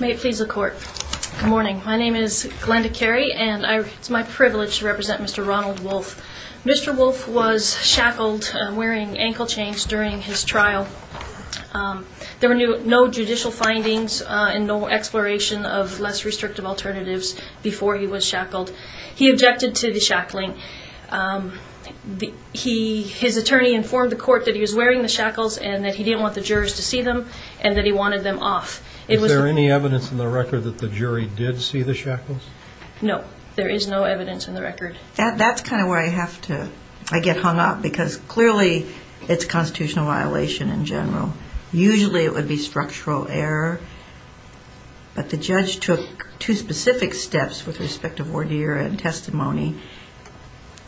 May it please the court. Good morning. My name is Glenda Carey and it's my privilege to represent Mr. Ronald Wulf. Mr. Wulf was shackled, wearing ankle chains during his trial. There were no judicial findings and no exploration of less restrictive alternatives before he was shackled. He objected to the shackling. His attorney informed the court that he was wearing the shackles and that he didn't want the jurors to see them and that he wanted them off. Is there any evidence in the record that the jury did see the shackles? No, there is no evidence in the record. That's kind of where I have to, I get hung up because clearly it's a constitutional violation in general. Usually it would be structural error, but the judge took two specific steps with respect to voir dire and testimony.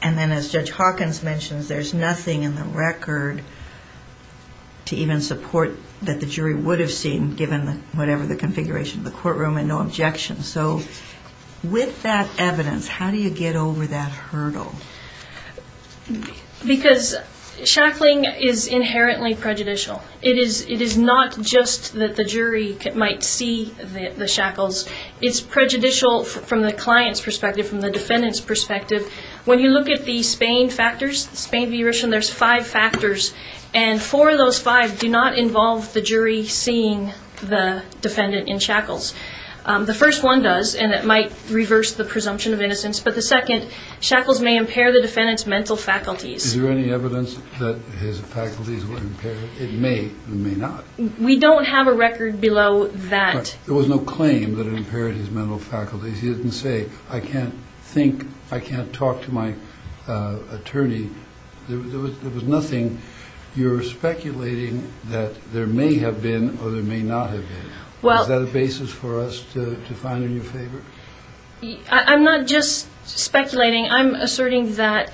And then as Judge Hawkins mentions, there's nothing in the record to even support that the jury would have seen, given whatever the configuration of the courtroom and no objections. So with that evidence, how do you get over that hurdle? Because shackling is inherently prejudicial. It is not just that the jury might see the shackles. It's prejudicial from the client's perspective, from the defendant's perspective. When you look at the Spain factors, there's five factors. And four of those five do not involve the jury seeing the defendant in shackles. The first one does, and it might reverse the presumption of innocence. But the second, shackles may impair the defendant's mental faculties. Is there any evidence that his faculties were impaired? It may or may not. We don't have a record below that. There was no claim that it impaired his mental faculties. He didn't say, I can't think, I can't talk to my attorney. There was nothing. You're speculating that there may have been or there may not have been. Is that a basis for us to find in your favor? I'm not just speculating. I'm asserting that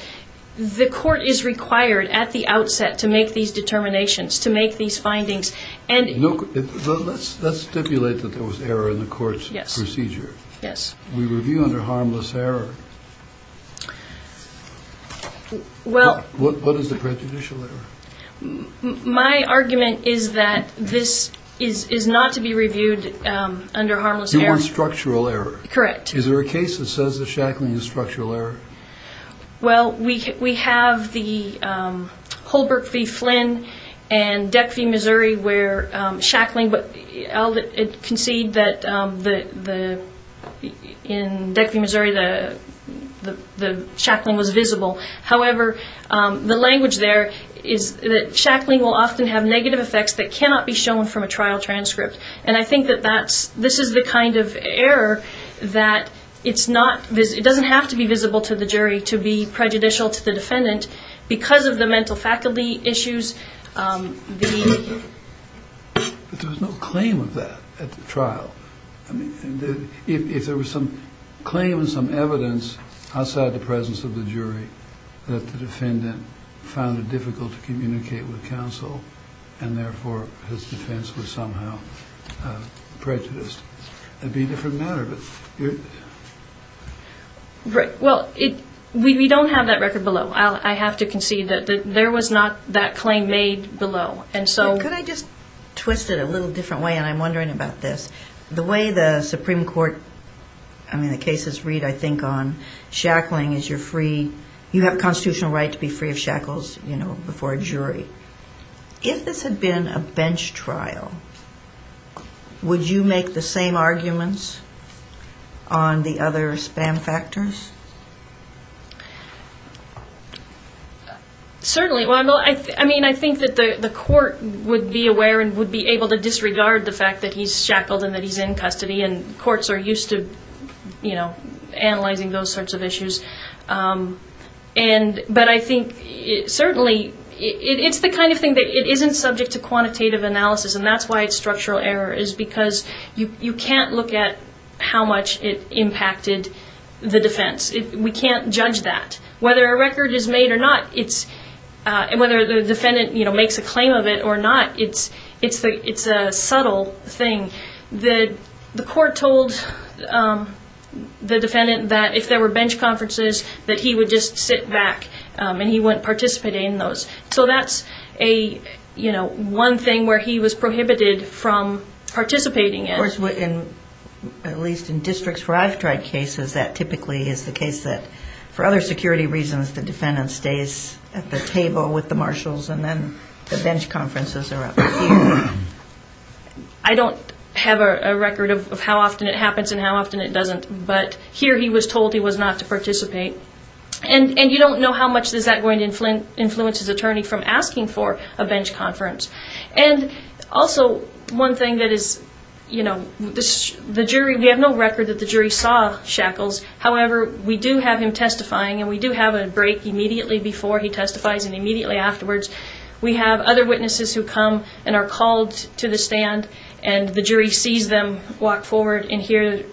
the court is required at the outset to make these determinations, to make these findings. Let's stipulate that there was error in the court's procedure. We review under harmless error. What is the prejudicial error? My argument is that this is not to be reviewed under harmless error. You want structural error. Correct. Is there a case that says the shackling is structural error? We have the Holbrook v. Flynn and Deck v. Missouri where shackling, but I'll concede that in Deck v. Missouri the shackling was visible. However, the language there is that shackling will often have negative effects that cannot be shown from a trial transcript. And I think that this is the kind of error that it's not, it doesn't have to be visible to the jury to be prejudicial to the defendant because of the mental faculty issues. But there was no claim of that at the trial. If there was some claim and some evidence outside the presence of the jury that the defendant found it difficult to communicate with counsel and, therefore, his defense was somehow prejudiced, it would be a different matter. Well, we don't have that record below. I have to concede that there was not that claim made below. Could I just twist it a little different way? And I'm wondering about this. The way the Supreme Court, I mean the cases read, I think, on shackling is you're free, you have constitutional right to be free of shackles before a jury. If this had been a bench trial, would you make the same arguments on the other spam factors? Certainly. I mean, I think that the court would be aware and would be able to disregard the fact that he's shackled and that he's in custody, and courts are used to analyzing those sorts of issues. But I think, certainly, it's the kind of thing that isn't subject to quantitative analysis, and that's why it's structural error, is because you can't look at how much it impacted the defense. We can't judge that. Whether a record is made or not, whether the defendant makes a claim of it or not, it's a subtle thing. The court told the defendant that if there were bench conferences, that he would just sit back and he wouldn't participate in those. So that's one thing where he was prohibited from participating in. Of course, at least in districts where I've tried cases, that typically is the case that, for other security reasons, the defendant stays at the table with the marshals and then the bench conferences are up here. I don't have a record of how often it happens and how often it doesn't, but here he was told he was not to participate. And you don't know how much is that going to influence his attorney from asking for a bench conference. And also, one thing that is, you know, the jury, we have no record that the jury saw shackles. However, we do have him testifying, and we do have a break immediately before he testifies and immediately afterwards. We have other witnesses who come and are called to the stand, and the jury sees them walk forward, and here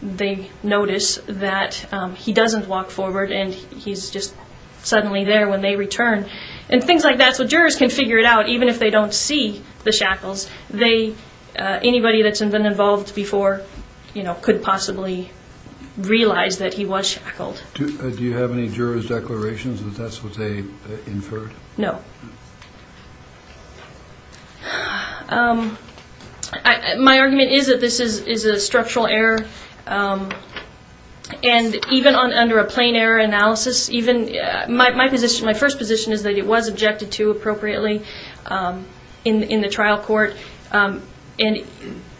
they notice that he doesn't walk forward and he's just suddenly there when they return. And things like that, so jurors can figure it out, even if they don't see the shackles. Anybody that's been involved before, you know, could possibly realize that he was shackled. Do you have any juror's declarations that that's what they inferred? No. My argument is that this is a structural error, and even under a plain error analysis, my first position is that it was objected to appropriately in the trial court. And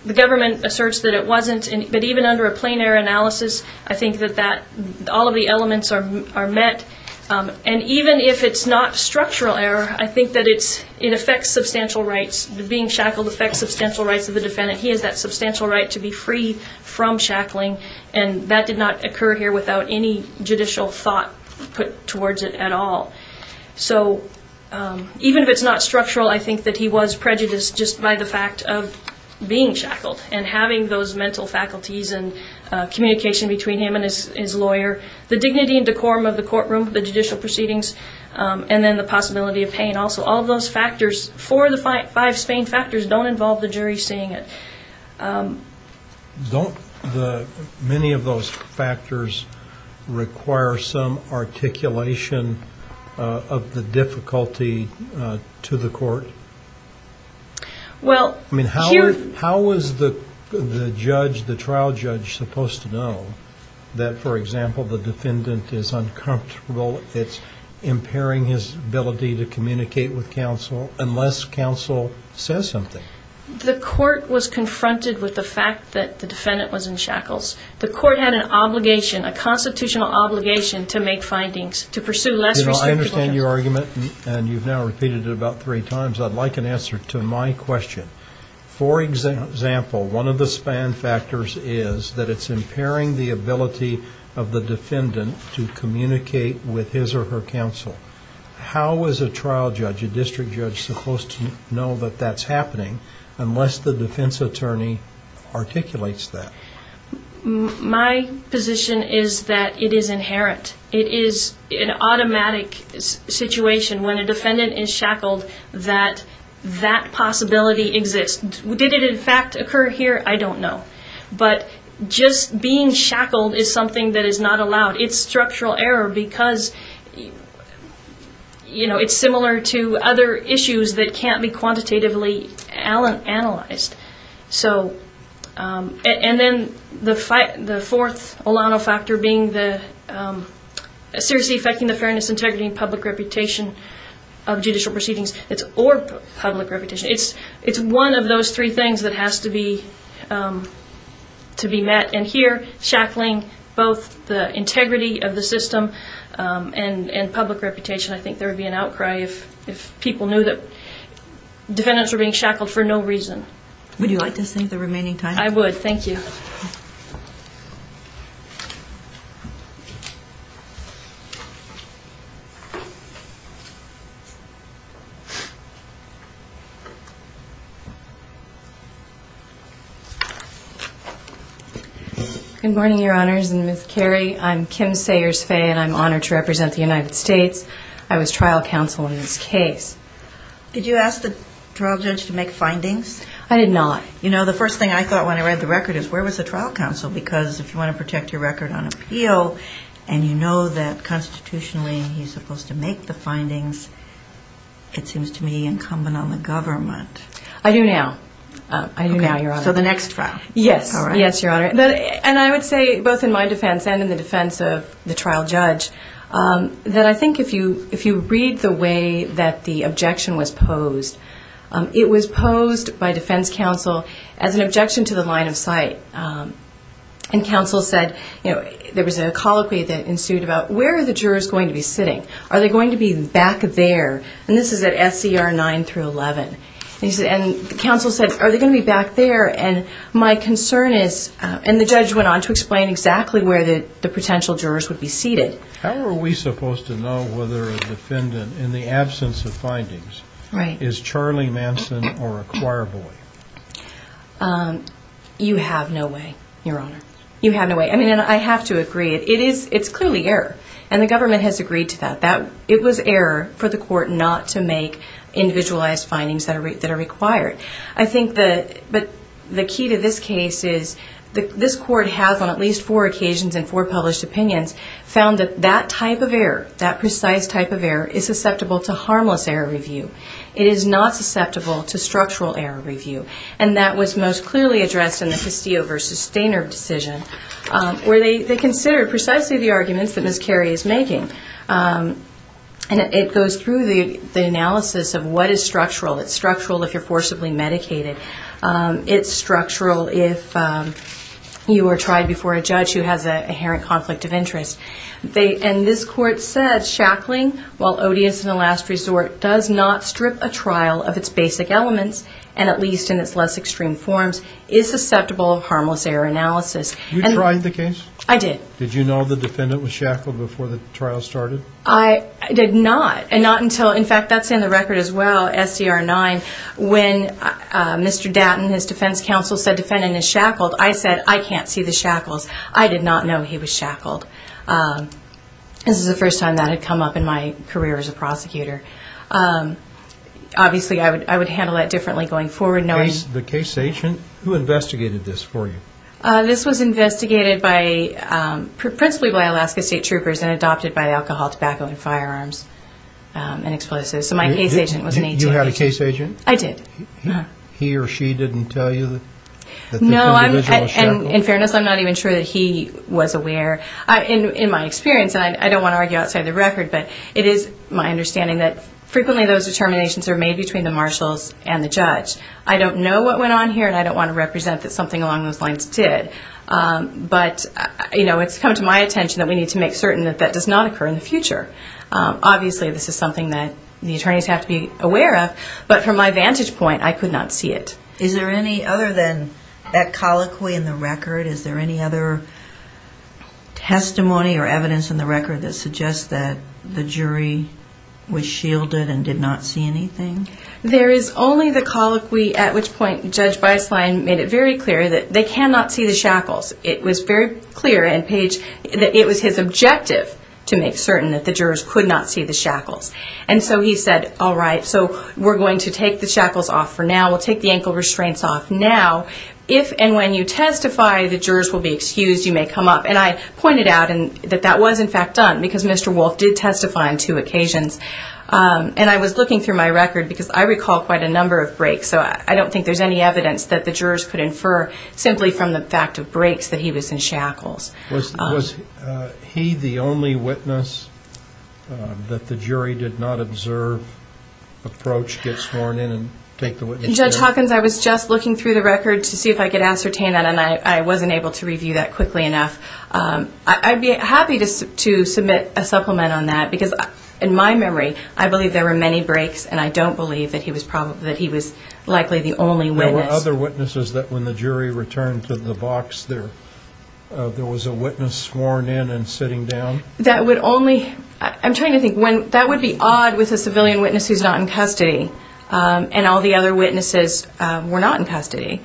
the government asserts that it wasn't, but even under a plain error analysis, I think that all of the elements are met. And even if it's not structural error, I think that it affects substantial rights. Being shackled affects substantial rights of the defendant. He has that substantial right to be free from shackling, and that did not occur here without any judicial thought put towards it at all. So even if it's not structural, I think that he was prejudiced just by the fact of being shackled and having those mental faculties and communication between him and his lawyer. The dignity and decorum of the courtroom, the judicial proceedings, and then the possibility of pain also. All of those factors, four of the five Spain factors, don't involve the jury seeing it. Don't many of those factors require some articulation of the difficulty to the court? Well, here How was the judge, the trial judge, supposed to know that, for example, the defendant is uncomfortable, it's impairing his ability to communicate with counsel unless counsel says something? The court was confronted with the fact that the defendant was in shackles. The court had an obligation, a constitutional obligation, to make findings, to pursue less restrictive evidence. I understand your argument, and you've now repeated it about three times. I'd like an answer to my question. For example, one of the Spain factors is that it's impairing the ability of the defendant to communicate with his or her counsel. How is a trial judge, a district judge, supposed to know that that's happening unless the defense attorney articulates that? My position is that it is inherent. It is an automatic situation when a defendant is shackled that that possibility exists. Did it, in fact, occur here? I don't know. But just being shackled is something that is not allowed. It's structural error because it's similar to other issues that can't be quantitatively analyzed. And then the fourth Olano factor being the seriously affecting the fairness, integrity, and public reputation of judicial proceedings or public reputation. It's one of those three things that has to be met. And here, shackling both the integrity of the system and public reputation, I think there would be an outcry if people knew that defendants were being shackled for no reason. Would you like to save the remaining time? I would. Thank you. Good morning, Your Honors, and Ms. Carey. I'm Kim Sayers-Fay, and I'm honored to represent the United States. I was trial counsel in this case. Did you ask the trial judge to make findings? I did not. You know, the first thing I thought when I read the record is, where was the trial counsel? Because if you want to protect your record on appeal and you know that constitutionally he's supposed to make the findings, it seems to me incumbent on the government. I do now. I do now, Your Honor. Okay. So the next trial. Yes. Yes, Your Honor. And I would say, both in my defense and in the defense of the trial judge, that I think if you read the way that the objection was posed, it was posed by defense counsel as an objection to the line of sight. And counsel said, you know, there was a colloquy that ensued about, where are the jurors going to be sitting? Are they going to be back there? And this is at SCR 9 through 11. And counsel said, are they going to be back there? And my concern is, and the judge went on to explain exactly where the potential jurors would be seated. How are we supposed to know whether a defendant, in the absence of findings, is Charlie Manson or a choir boy? You have no way, Your Honor. You have no way. I mean, and I have to agree. It's clearly error, and the government has agreed to that. It was error for the court not to make individualized findings that are required. I think the key to this case is this court has, on at least four occasions and four published opinions, found that that type of error, that precise type of error, is susceptible to harmless error review. It is not susceptible to structural error review. And that was most clearly addressed in the Castillo v. Stainer decision, where they considered precisely the arguments that Ms. Carey is making. And it goes through the analysis of what is structural. It's structural if you're forcibly medicated. It's structural if you are tried before a judge who has an inherent conflict of interest. And this court said, shackling, while odious in the last resort, does not strip a trial of its basic elements, and at least in its less extreme forms, is susceptible to harmless error analysis. You tried the case? I did. Did you know the defendant was shackled before the trial started? I did not. And not until, in fact, that's in the record as well, SDR 9, when Mr. Dattin, his defense counsel, said defendant is shackled, I said, I can't see the shackles. I did not know he was shackled. This is the first time that had come up in my career as a prosecutor. Obviously, I would handle that differently going forward. The case agent, who investigated this for you? This was investigated principally by Alaska State Troopers and adopted by Alcohol, Tobacco, and Firearms and Explosives. So my case agent was an agent. You had a case agent? I did. He or she didn't tell you that the individual was shackled? No, and in fairness, I'm not even sure that he was aware. In my experience, and I don't want to argue outside the record, but it is my understanding that frequently those determinations are made between the marshals and the judge. I don't know what went on here, and I don't want to represent that something along those lines did, but it's come to my attention that we need to make certain that that does not occur in the future. Obviously, this is something that the attorneys have to be aware of, but from my vantage point, I could not see it. Is there any other than that colloquy in the record, is there any other testimony or evidence in the record that suggests that the jury was shielded and did not see anything? There is only the colloquy at which point Judge Beislein made it very clear that they cannot see the shackles. It was very clear, and it was his objective to make certain that the jurors could not see the shackles. And so he said, all right, so we're going to take the shackles off for now. We'll take the ankle restraints off now. If and when you testify, the jurors will be excused. You may come up. And I pointed out that that was, in fact, done, because Mr. Wolfe did testify on two occasions. And I was looking through my record because I recall quite a number of breaks, so I don't think there's any evidence that the jurors could infer simply from the fact of breaks that he was in shackles. Was he the only witness that the jury did not observe, approach, get sworn in, and take the witness down? Judge Hawkins, I was just looking through the record to see if I could ascertain that, and I wasn't able to review that quickly enough. I'd be happy to submit a supplement on that, because in my memory, I believe there were many breaks, and I don't believe that he was likely the only witness. Were there other witnesses that when the jury returned to the box, there was a witness sworn in and sitting down? That would only – I'm trying to think. That would be odd with a civilian witness who's not in custody, and all the other witnesses were not in custody.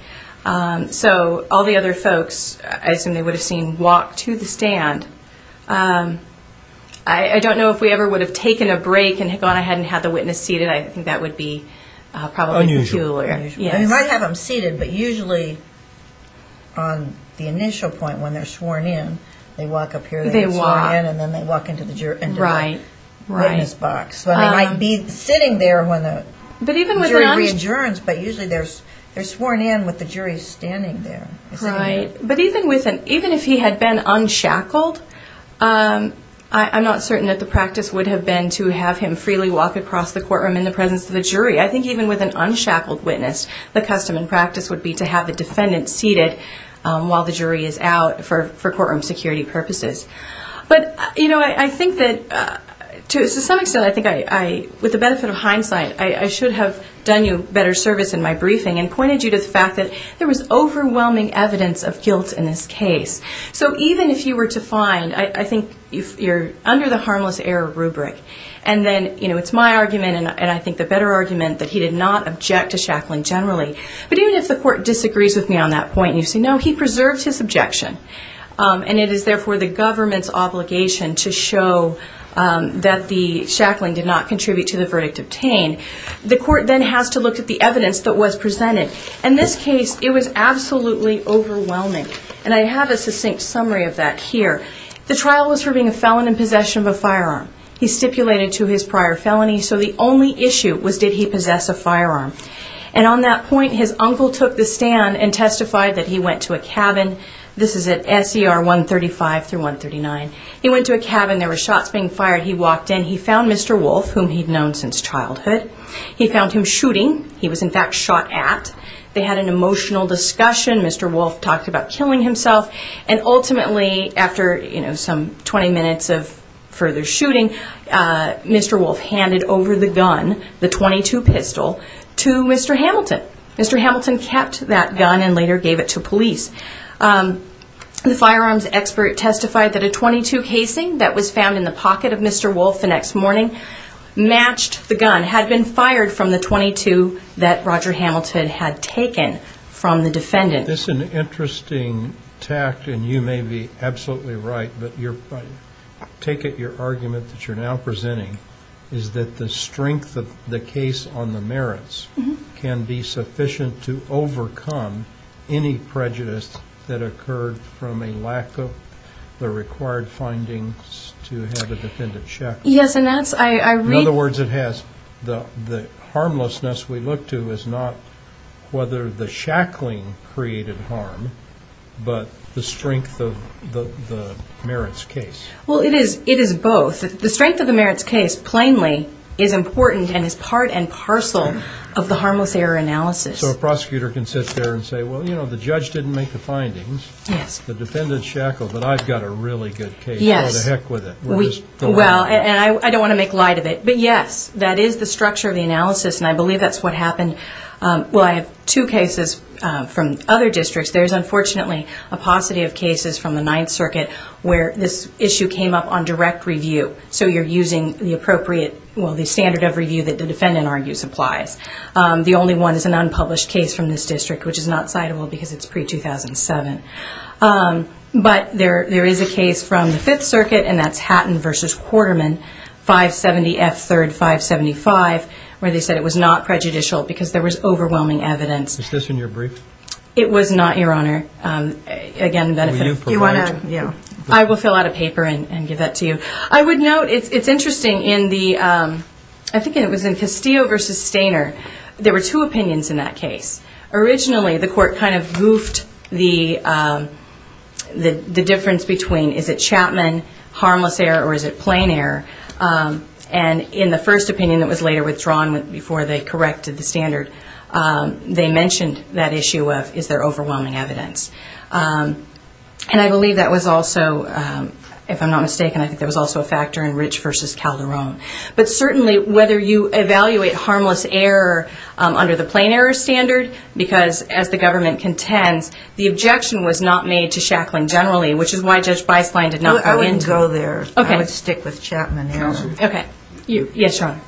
So all the other folks, I assume they would have seen, walked to the stand. I don't know if we ever would have taken a break and gone ahead and had the witness seated. I think that would be probably peculiar. Unusual. Unusual. They might have them seated, but usually on the initial point when they're sworn in, they walk up here, and then they walk into the witness box. So they might be sitting there when the jury reinsurance, but usually they're sworn in with the jury standing there. But even if he had been unshackled, I'm not certain that the practice would have been to have him freely walk across the courtroom in the presence of the jury. I think even with an unshackled witness, the custom and practice would be to have the defendant seated while the jury is out for courtroom security purposes. But I think that to some extent, with the benefit of hindsight, I should have done you better service in my briefing and pointed you to the fact that there was overwhelming evidence of guilt in this case. So even if you were to find, I think you're under the harmless error rubric. And then it's my argument, and I think the better argument, that he did not object to shackling generally. But even if the court disagrees with me on that point, and you say, no, he preserved his objection, and it is therefore the government's obligation to show that the shackling did not contribute to the verdict obtained, the court then has to look at the evidence that was presented. In this case, it was absolutely overwhelming, and I have a succinct summary of that here. The trial was for being a felon in possession of a firearm. He stipulated to his prior felony, so the only issue was did he possess a firearm. And on that point, his uncle took the stand and testified that he went to a cabin. This is at SER 135 through 139. He went to a cabin. There were shots being fired. He walked in. He found Mr. Wolfe, whom he'd known since childhood. He found him shooting. He was, in fact, shot at. They had an emotional discussion. Mr. Wolfe talked about killing himself. And ultimately, after some 20 minutes of further shooting, Mr. Wolfe handed over the gun, the .22 pistol, to Mr. Hamilton. Mr. Hamilton kept that gun and later gave it to police. The firearms expert testified that a .22 casing that was found in the pocket of Mr. Wolfe the next morning matched the gun, had been fired from the .22 that Roger Hamilton had taken from the defendant. This is an interesting tact, and you may be absolutely right, but I take it your argument that you're now presenting is that the strength of the case on the merits can be sufficient to overcome any prejudice that occurred from a lack of the required findings to have a defendant shackled. Yes, and that's why I read. In other words, it has the harmlessness we look to is not whether the shackling created harm, but the strength of the merits case. Well, it is both. The strength of the merits case, plainly, is important and is part and parcel of the harmless error analysis. So a prosecutor can sit there and say, well, you know, the judge didn't make the findings. Yes. The defendant shackled, but I've got a really good case. Yes. Go to heck with it. Well, and I don't want to make light of it, but yes, that is the structure of the analysis, and I believe that's what happened. Well, I have two cases from other districts. There's unfortunately a paucity of cases from the Ninth Circuit where this issue came up on direct review, so you're using the appropriate, well, the standard of review that the defendant argues applies. The only one is an unpublished case from this district, which is not citable because it's pre-2007. But there is a case from the Fifth Circuit, and that's Hatton v. Quarterman, 570 F. 3rd, 575, where they said it was not prejudicial because there was overwhelming evidence. Is this in your brief? It was not, Your Honor. Again, the benefit of you want to, yeah. I will fill out a paper and give that to you. I would note it's interesting in the, I think it was in Castillo v. Stainer. There were two opinions in that case. Originally, the court kind of goofed the difference between is it Chapman harmless error or is it plain error, and in the first opinion that was later withdrawn before they corrected the standard, they mentioned that issue of is there overwhelming evidence. And I believe that was also, if I'm not mistaken, I think there was also a factor in Rich v. Calderon. But certainly whether you evaluate harmless error under the plain error standard, because as the government contends, the objection was not made to Shacklin generally, which is why Judge Beislein did not go into it. I wouldn't go there. Okay. I would stick with Chapman error. Okay. Yes, Your Honor.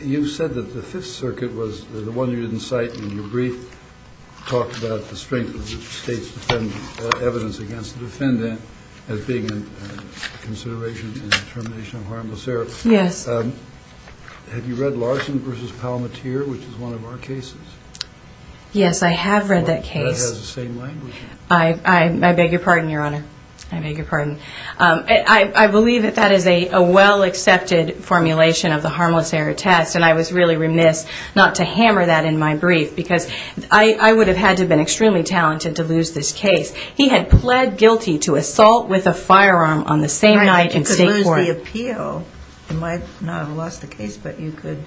You said that the Fifth Circuit was the one you didn't cite in your brief, talked about the strength of the state's evidence against the defendant as being a consideration in termination of harmless error. Yes. Have you read Larson v. Palmateer, which is one of our cases? Yes, I have read that case. That has the same language. I beg your pardon, Your Honor. I beg your pardon. I believe that that is a well-accepted formulation of the harmless error test, and I was really remiss not to hammer that in my brief, because I would have had to have been extremely talented to lose this case. He had pled guilty to assault with a firearm on the same night in State Court. Right. You could lose the appeal. You might not have lost the case, but you could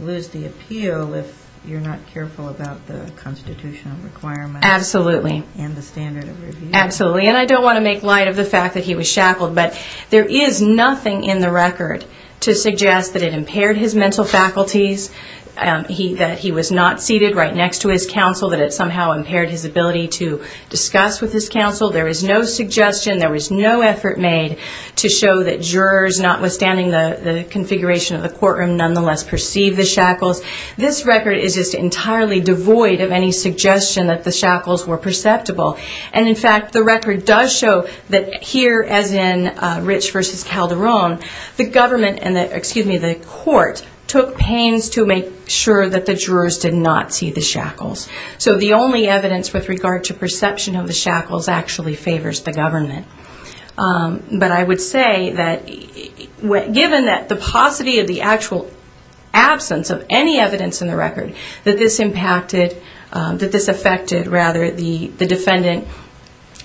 lose the appeal if you're not careful about the constitutional requirements. Absolutely. And the standard of review. Absolutely. And I don't want to make light of the fact that he was shackled, but there is nothing in the record to suggest that it impaired his mental faculties, that he was not seated right next to his counsel, that it somehow impaired his ability to discuss with his counsel. There is no suggestion, there was no effort made, to show that jurors, notwithstanding the configuration of the courtroom, nonetheless perceived the shackles. This record is just entirely devoid of any suggestion that the shackles were perceptible. And, in fact, the record does show that here, as in Rich v. Calderon, the government and the court took pains to make sure that the jurors did not see the shackles. So the only evidence with regard to perception of the shackles actually favors the government. But I would say that given the paucity of the actual absence of any evidence in the record, that this impacted, that this affected, rather, the defendant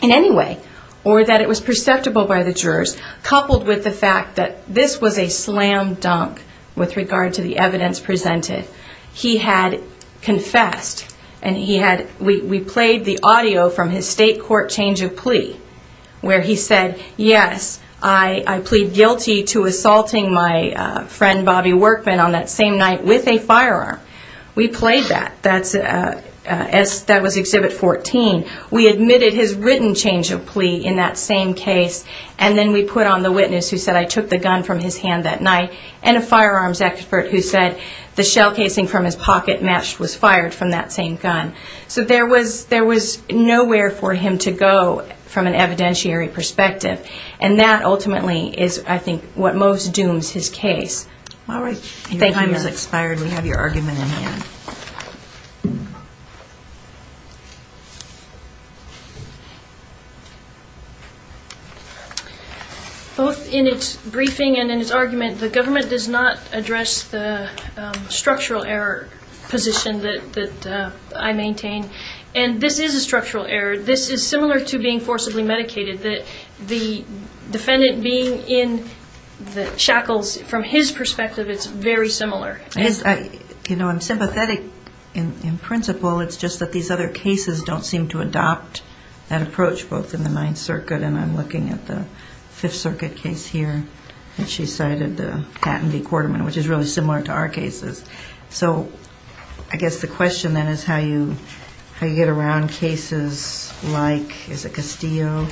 in any way, or that it was perceptible by the jurors, coupled with the fact that this was a slam dunk with regard to the evidence presented, he had confessed, and he had, we played the audio from his state court change of plea, where he said, yes, I plead guilty to assaulting my friend, Bobby Workman, on that same night with a firearm. We played that. That was Exhibit 14. We admitted his written change of plea in that same case, and then we put on the witness who said, I took the gun from his hand that night, and a firearms expert who said the shell casing from his pocket match was fired from that same gun. So there was nowhere for him to go from an evidentiary perspective, and that ultimately is, I think, what most dooms his case. All right. Your time has expired. We have your argument in hand. Both in its briefing and in its argument, the government does not address the structural error position that I maintain, and this is a structural error. This is similar to being forcibly medicated, that the defendant being in the shackles, from his perspective, it's very similar. You know, I'm sympathetic in principle. It's just that these other cases don't seem to adopt that approach, both in the Ninth Circuit, and I'm looking at the Fifth Circuit case here that she cited, the Hatton v. Quarterman, which is really similar to our cases. So I guess the question then is how you get around cases like, is it Castillo?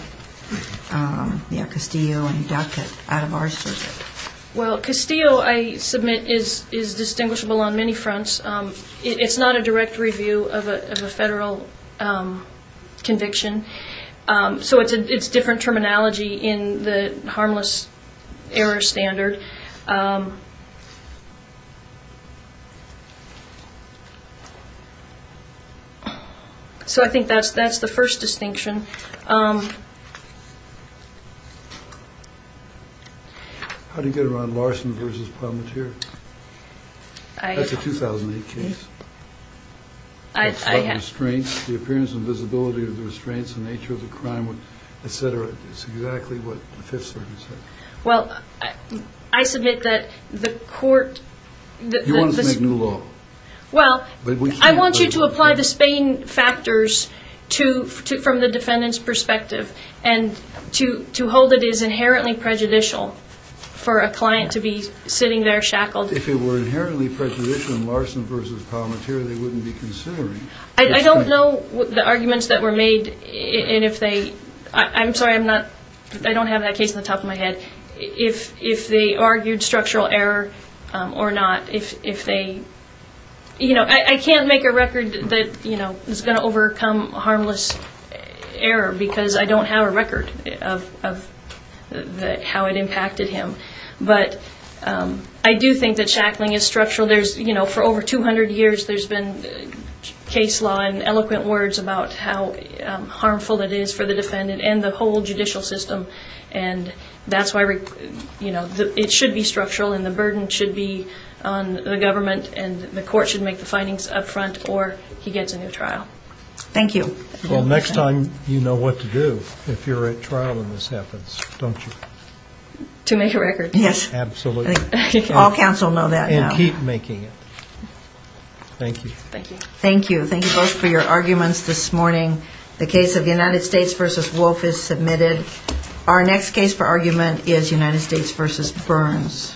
Yeah, Castillo and Duckett out of our circuit. Well, Castillo, I submit, is distinguishable on many fronts. It's not a direct review of a federal conviction, so it's different terminology in the harmless error standard. So I think that's the first distinction. How do you get around Larson v. Palmatier? That's a 2008 case. I have... The restraints, the appearance and visibility of the restraints, the nature of the crime, et cetera. It's exactly what the Fifth Circuit said. Well, I submit that the court... You want us to make new law. Well, I want you to apply the Spain factors from the defendant's perspective and to hold it is inherently prejudicial for a client to be sitting there shackled. If it were inherently prejudicial in Larson v. Palmatier, they wouldn't be considering... I don't know the arguments that were made, and if they... I'm sorry, I don't have that case on the top of my head. If they argued structural error or not, if they... I can't make a record that is going to overcome harmless error because I don't have a record of how it impacted him. But I do think that shackling is structural. For over 200 years, there's been case law and eloquent words about how harmful it is for the defendant and the whole judicial system. And that's why it should be structural and the burden should be on the government and the court should make the findings up front or he gets a new trial. Thank you. Well, next time you know what to do if you're at trial and this happens, don't you? To make a record, yes. Absolutely. All counsel know that now. And keep making it. Thank you. Thank you. Thank you both for your arguments this morning. The case of United States v. Wolf is submitted. Our next case for argument is United States v. Burns.